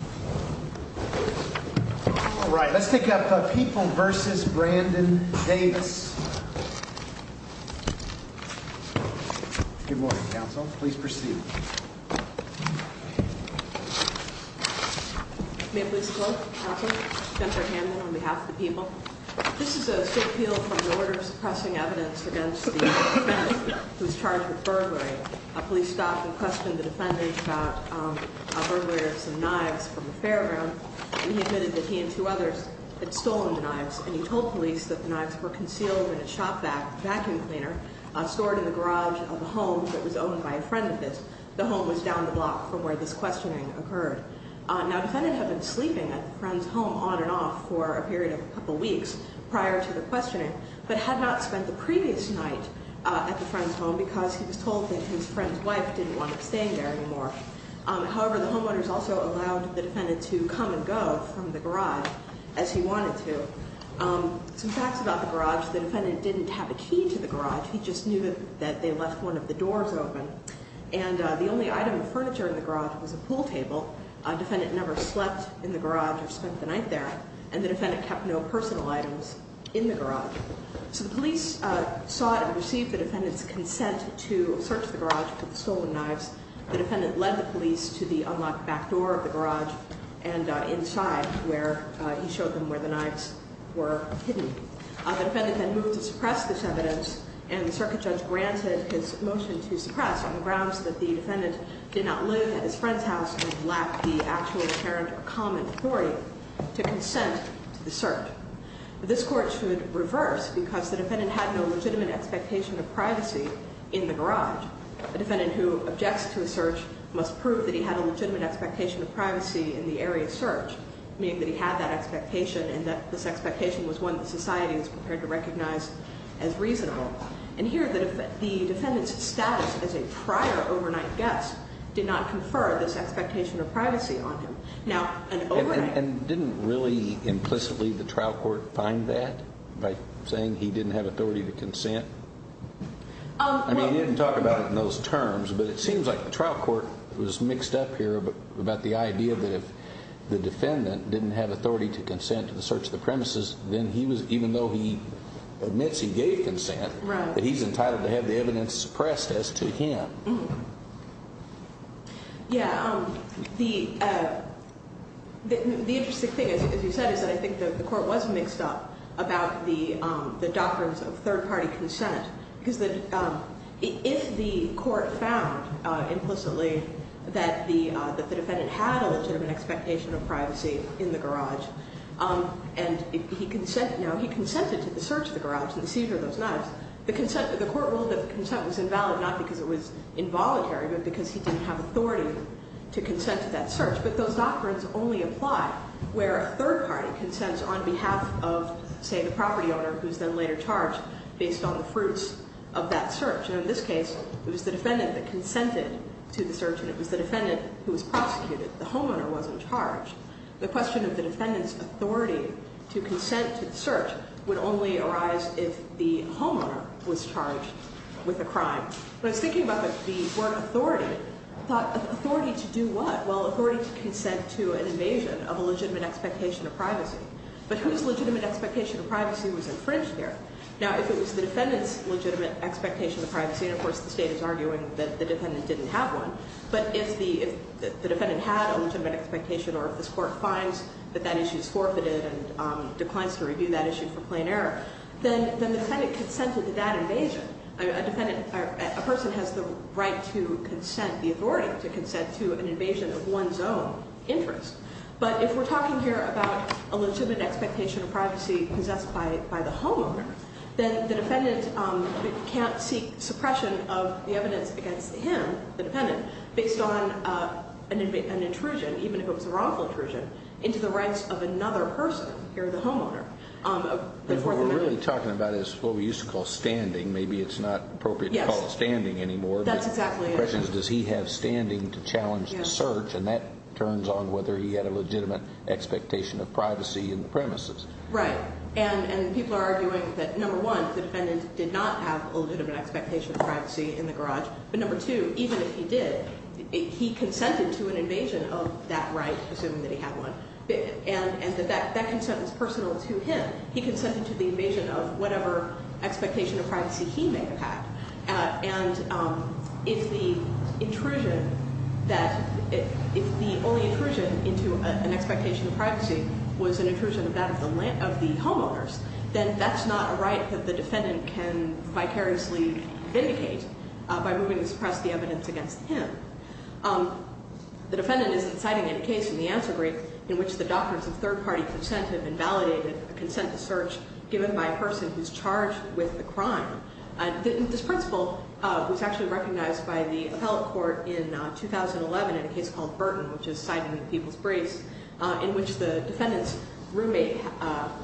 Good morning, counsel. Please proceed. May it please the court. Counsel, Spencer Hamlin on behalf of the people. This is a suit appeal from the order of suppressing evidence against the defendant who was charged with burglary. A police staffer questioned the defendant about a burglary of some knives from the fairground. He admitted that he and two others had stolen the knives and he told police that the knives were concealed in a shop vacuum cleaner stored in the garage of a home that was owned by a friend of his. The home was down the block from where this questioning occurred. Now, the defendant had been sleeping at the friend's home on and off for a period of a couple weeks prior to the questioning, but had not spent the previous night at the friend's home because he was told that his friend's wife didn't want him staying there anymore. However, the homeowners also allowed the defendant to come and go from the garage as he wanted to. Some facts about the garage. The defendant didn't have a key to the garage. He just knew that they left one of the doors open. And the only item of furniture in the garage was a pool table. The defendant never slept in the garage or spent the night there. And the defendant kept no personal items in the garage. So the police sought and received the defendant's consent to search the garage for the stolen knives. The defendant led the police to the unlocked back door of the garage and inside where he showed them where the knives were hidden. The defendant then moved to suppress this evidence, and the circuit judge granted his motion to suppress on the grounds that the defendant did not live at his friend's house and lacked the actual apparent common query to consent to the search. This Court should reverse because the defendant had no legitimate expectation of privacy in the garage. The defendant who objects to a search must prove that he had a legitimate expectation of privacy in the area searched, meaning that he had that expectation and that this expectation was one that society was prepared to recognize as reasonable. And here the defendant's status as a prior overnight guest did not confer this expectation of privacy on him. And didn't really implicitly the trial court find that by saying he didn't have authority to consent? I mean, he didn't talk about it in those terms, but it seems like the trial court was mixed up here about the idea that if the defendant didn't have authority to consent to the search of the premises, then he was, even though he admits he gave consent, that he's entitled to have the evidence suppressed as to him. Yeah, the interesting thing, as you said, is that I think the court was mixed up about the doctrines of third-party consent. Because if the court found implicitly that the defendant had a legitimate expectation of privacy in the garage, and he consented to the search of the garage and the seizure of those knives, the court ruled that the consent was invalid not because it was involuntary, but because he didn't have authority to consent to that search. But those doctrines only apply where a third party consents on behalf of, say, the property owner who's then later charged based on the fruits of that search. And in this case, it was the defendant that consented to the search, and it was the defendant who was prosecuted. The homeowner wasn't charged. The question of the defendant's authority to consent to the search would only arise if the homeowner was charged with a crime. When I was thinking about the word authority, I thought, authority to do what? Well, authority to consent to an invasion of a legitimate expectation of privacy. But whose legitimate expectation of privacy was infringed here? Now, if it was the defendant's legitimate expectation of privacy, and of course the State is arguing that the defendant didn't have one, but if the defendant had a legitimate expectation or if this court finds that that issue is forfeited and declines to review that issue for plain error, then the defendant consented to that invasion. A person has the right to consent, the authority to consent to an invasion of one's own interest. But if we're talking here about a legitimate expectation of privacy possessed by the homeowner, then the defendant can't seek suppression of the evidence against him, the defendant, based on an intrusion, even if it was a wrongful intrusion, into the rights of another person, here the homeowner. What we're really talking about is what we used to call standing. Maybe it's not appropriate to call it standing anymore. That's exactly it. The question is, does he have standing to challenge the search? And that turns on whether he had a legitimate expectation of privacy in the premises. Right. And people are arguing that, number one, the defendant did not have a legitimate expectation of privacy in the garage, but number two, even if he did, he consented to an invasion of that right, assuming that he had one, and that that consent was personal to him. He consented to the invasion of whatever expectation of privacy he may have had. And if the only intrusion into an expectation of privacy was an intrusion of that of the homeowners, then that's not a right that the defendant can vicariously vindicate by moving to suppress the evidence against him. The defendant isn't citing any case in the answer brief in which the doctrines of third-party consent have invalidated a consent to search given by a person who's charged with the crime. This principle was actually recognized by the appellate court in 2011 in a case called Burton, which is cited in the people's briefs, in which the defendant's roommate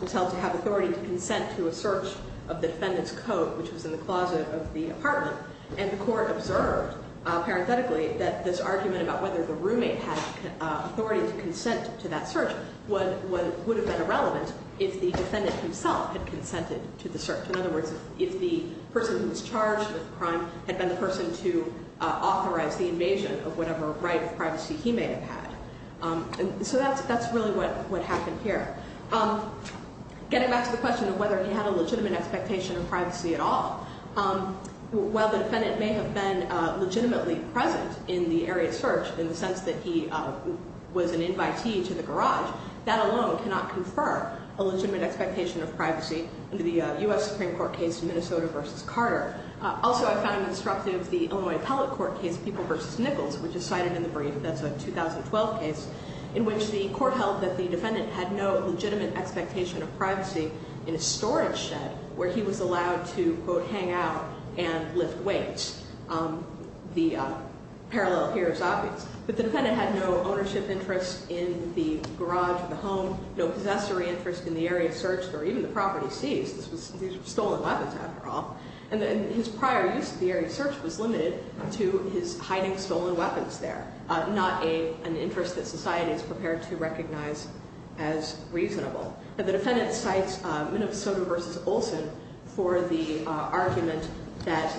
was held to have authority to consent to a search of the defendant's coat, which was in the closet of the apartment. And the court observed, parenthetically, that this argument about whether the roommate had authority to consent to that search would have been irrelevant if the defendant himself had consented to the search. In other words, if the person who was charged with the crime had been the person to authorize the invasion of whatever right of privacy he may have had. So that's really what happened here. Getting back to the question of whether he had a legitimate expectation of privacy at all, while the defendant may have been legitimately present in the area of search in the sense that he was an invitee to the garage, that alone cannot confer a legitimate expectation of privacy under the U.S. Supreme Court case Minnesota v. Carter. Also, I found instructive the Illinois Appellate Court case People v. Nichols, which is cited in the brief. That's a 2012 case in which the court held that the defendant had no legitimate expectation of privacy in a storage shed where he was allowed to, quote, hang out and lift weights. The parallel here is obvious. But the defendant had no ownership interest in the garage or the home, no possessory interest in the area of search, or even the property seized. These were stolen weapons, after all. And his prior use of the area of search was limited to his hiding stolen weapons there, not an interest that society is prepared to recognize as reasonable. Now, the defendant cites Minnesota v. Olson for the argument that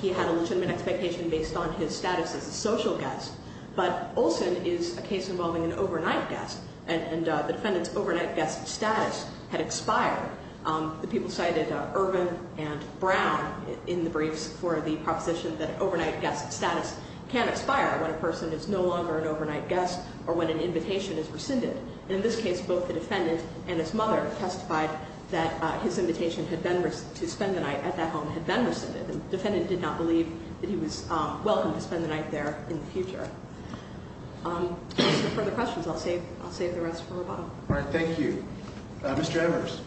he had a legitimate expectation based on his status as a social guest. But Olson is a case involving an overnight guest, and the defendant's overnight guest status had expired. The people cited Irvin and Brown in the briefs for the proposition that overnight guest status can expire when a person is no longer an overnight guest or when an invitation is rescinded. In this case, both the defendant and his mother testified that his invitation to spend the night at that home had been rescinded. The defendant did not believe that he was welcome to spend the night there in the future. If there are no further questions, I'll save the rest for Roboto. All right. Thank you. Mr. Embers.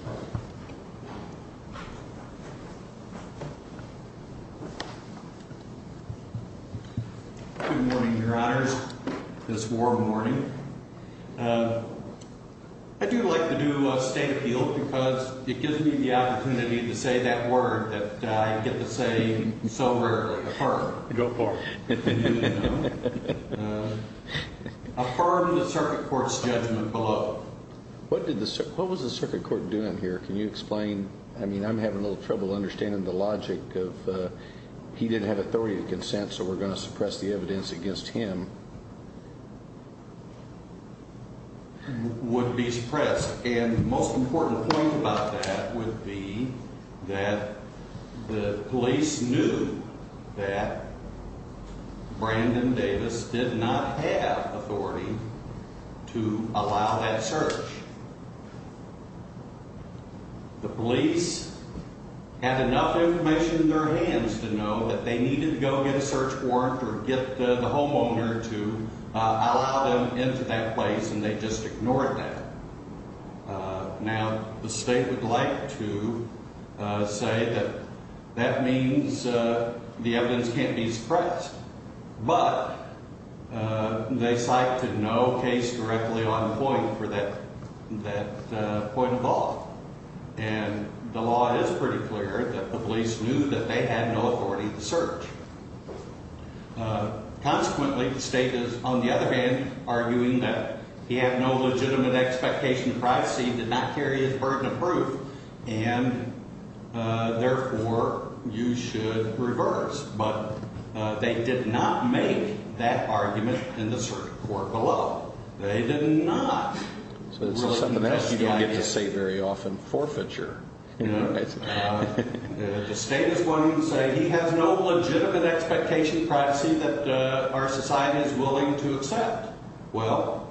Good morning, Your Honors. This warm morning. I do like to do state appeal because it gives me the opportunity to say that word that I get to say so rarely, affirm. Go for it. Affirm the circuit court's judgment below. What was the circuit court doing here? Can you explain? I mean, I'm having a little trouble understanding the logic of he didn't have authority to consent, so we're going to suppress the evidence against him. Would be suppressed. And the most important point about that would be that the police knew that Brandon Davis did not have authority to allow that search. The police had enough information in their hands to know that they needed to go get a search warrant or get the homeowner to allow them into that place, and they just ignored that. Now, the state would like to say that that means the evidence can't be suppressed, but they cite to no case directly on point for that point of all. And the law is pretty clear that the police knew that they had no authority to search. Consequently, the state is, on the other hand, arguing that he had no legitimate expectation of privacy, did not carry his burden of proof, and, therefore, you should reverse. But they did not make that argument in the circuit court below. They did not. So this is something that you didn't get to say very often, forfeiture. The state is going to say he has no legitimate expectation of privacy that our society is willing to accept. Well,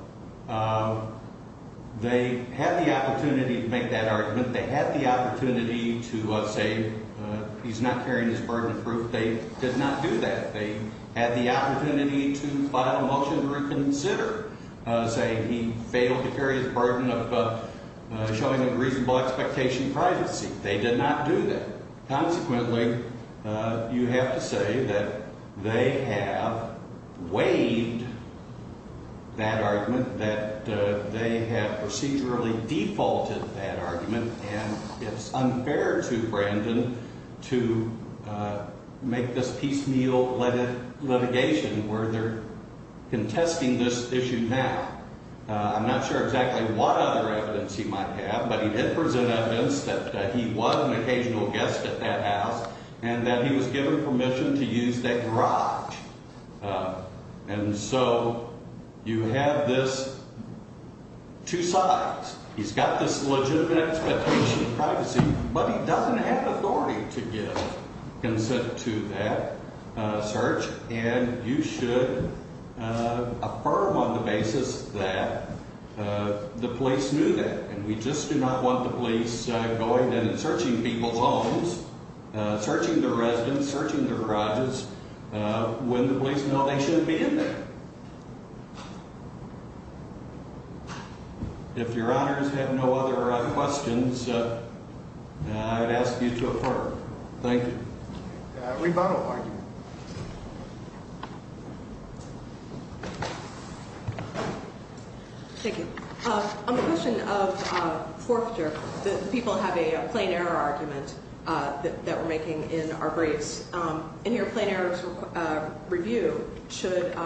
they had the opportunity to make that argument. They had the opportunity to say he's not carrying his burden of proof. They did not do that. They had the opportunity to file a motion to reconsider, saying he failed to carry his burden of showing a reasonable expectation of privacy. They did not do that. where they're contesting this issue now. I'm not sure exactly what other evidence he might have, but he did present evidence that he was an occasional guest at that house and that he was given permission to use that garage. And so you have this two sides. He's got this legitimate expectation of privacy, but he doesn't have authority to give consent to that search, and you should affirm on the basis that the police knew that. And we just do not want the police going in and searching people's homes, searching their residence, searching their garages when the police know they shouldn't be in there. If Your Honor has had no other questions, I'd ask you to affirm. Thank you. Rebuttal argument. Thank you. On the question of forfeiture, the people have a plain error argument that we're making in our briefs. And here a plain error review should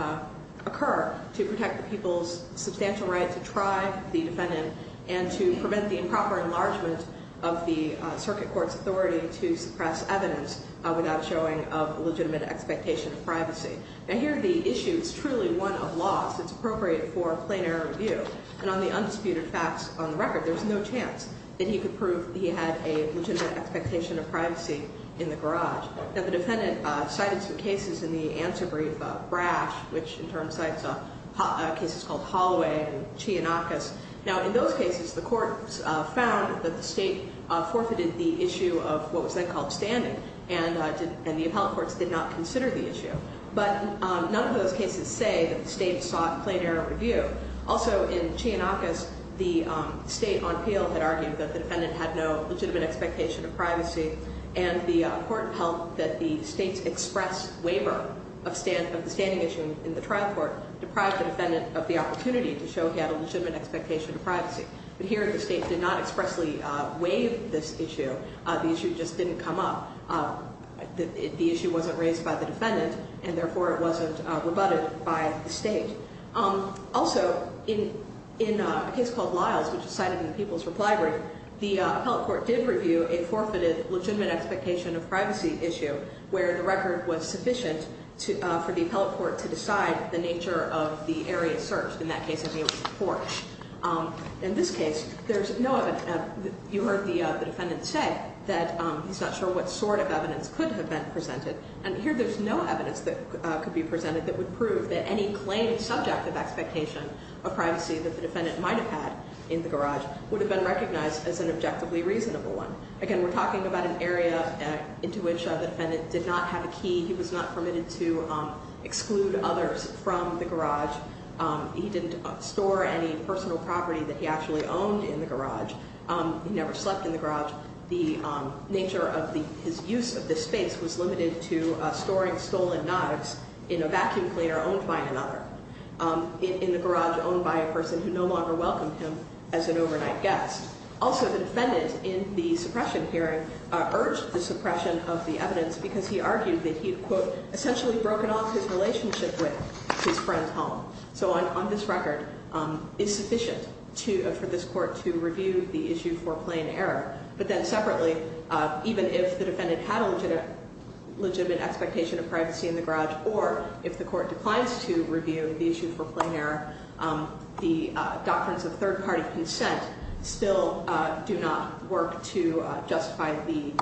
occur to protect the people's substantial right to try the defendant and to prevent the improper enlargement of the circuit court's authority to suppress evidence without showing of legitimate expectation of privacy. And here the issue is truly one of loss. It's appropriate for a plain error review. And on the undisputed facts on the record, there's no chance that he could prove he had a legitimate expectation of privacy in the garage. Now, the defendant cited some cases in the answer brief, Brash, which in turn cites cases called Holloway and Chianakis. Now, in those cases, the courts found that the state forfeited the issue of what was then called standing, and the appellate courts did not consider the issue. But none of those cases say that the state sought plain error review. Also, in Chianakis, the state on appeal had argued that the defendant had no legitimate expectation of privacy. And the court held that the state's express waiver of the standing issue in the trial court deprived the defendant of the opportunity to show he had a legitimate expectation of privacy. But here the state did not expressly waive this issue. The issue just didn't come up. The issue wasn't raised by the defendant, and therefore it wasn't rebutted by the state. Also, in a case called Lyles, which is cited in the People's Reply Brief, the appellate court did review a forfeited legitimate expectation of privacy issue, where the record was sufficient for the appellate court to decide the nature of the area searched. In that case, it was a porch. In this case, there's no evidence. You heard the defendant say that he's not sure what sort of evidence could have been presented. And here there's no evidence that could be presented that would prove that any claimed subject of expectation of privacy that the defendant might have had in the garage would have been recognized as an objectively reasonable one. Again, we're talking about an area into which the defendant did not have a key. He was not permitted to exclude others from the garage. He didn't store any personal property that he actually owned in the garage. He never slept in the garage. The nature of his use of this space was limited to storing stolen knives in a vacuum cleaner owned by another, in the garage owned by a person who no longer welcomed him as an overnight guest. Also, the defendant in the suppression hearing urged the suppression of the evidence because he argued that he had, quote, essentially broken off his relationship with his friend's home. So on this record, it's sufficient for this court to review the issue for plain error. But then separately, even if the defendant had a legitimate expectation of privacy in the garage or if the court declines to review the issue for plain error, the doctrines of third-party consent still do not work to justify the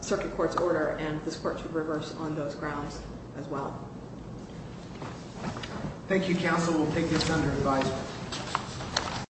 circuit court's order. And this court should reverse on those grounds as well. Thank you, counsel. We'll take this under advisory.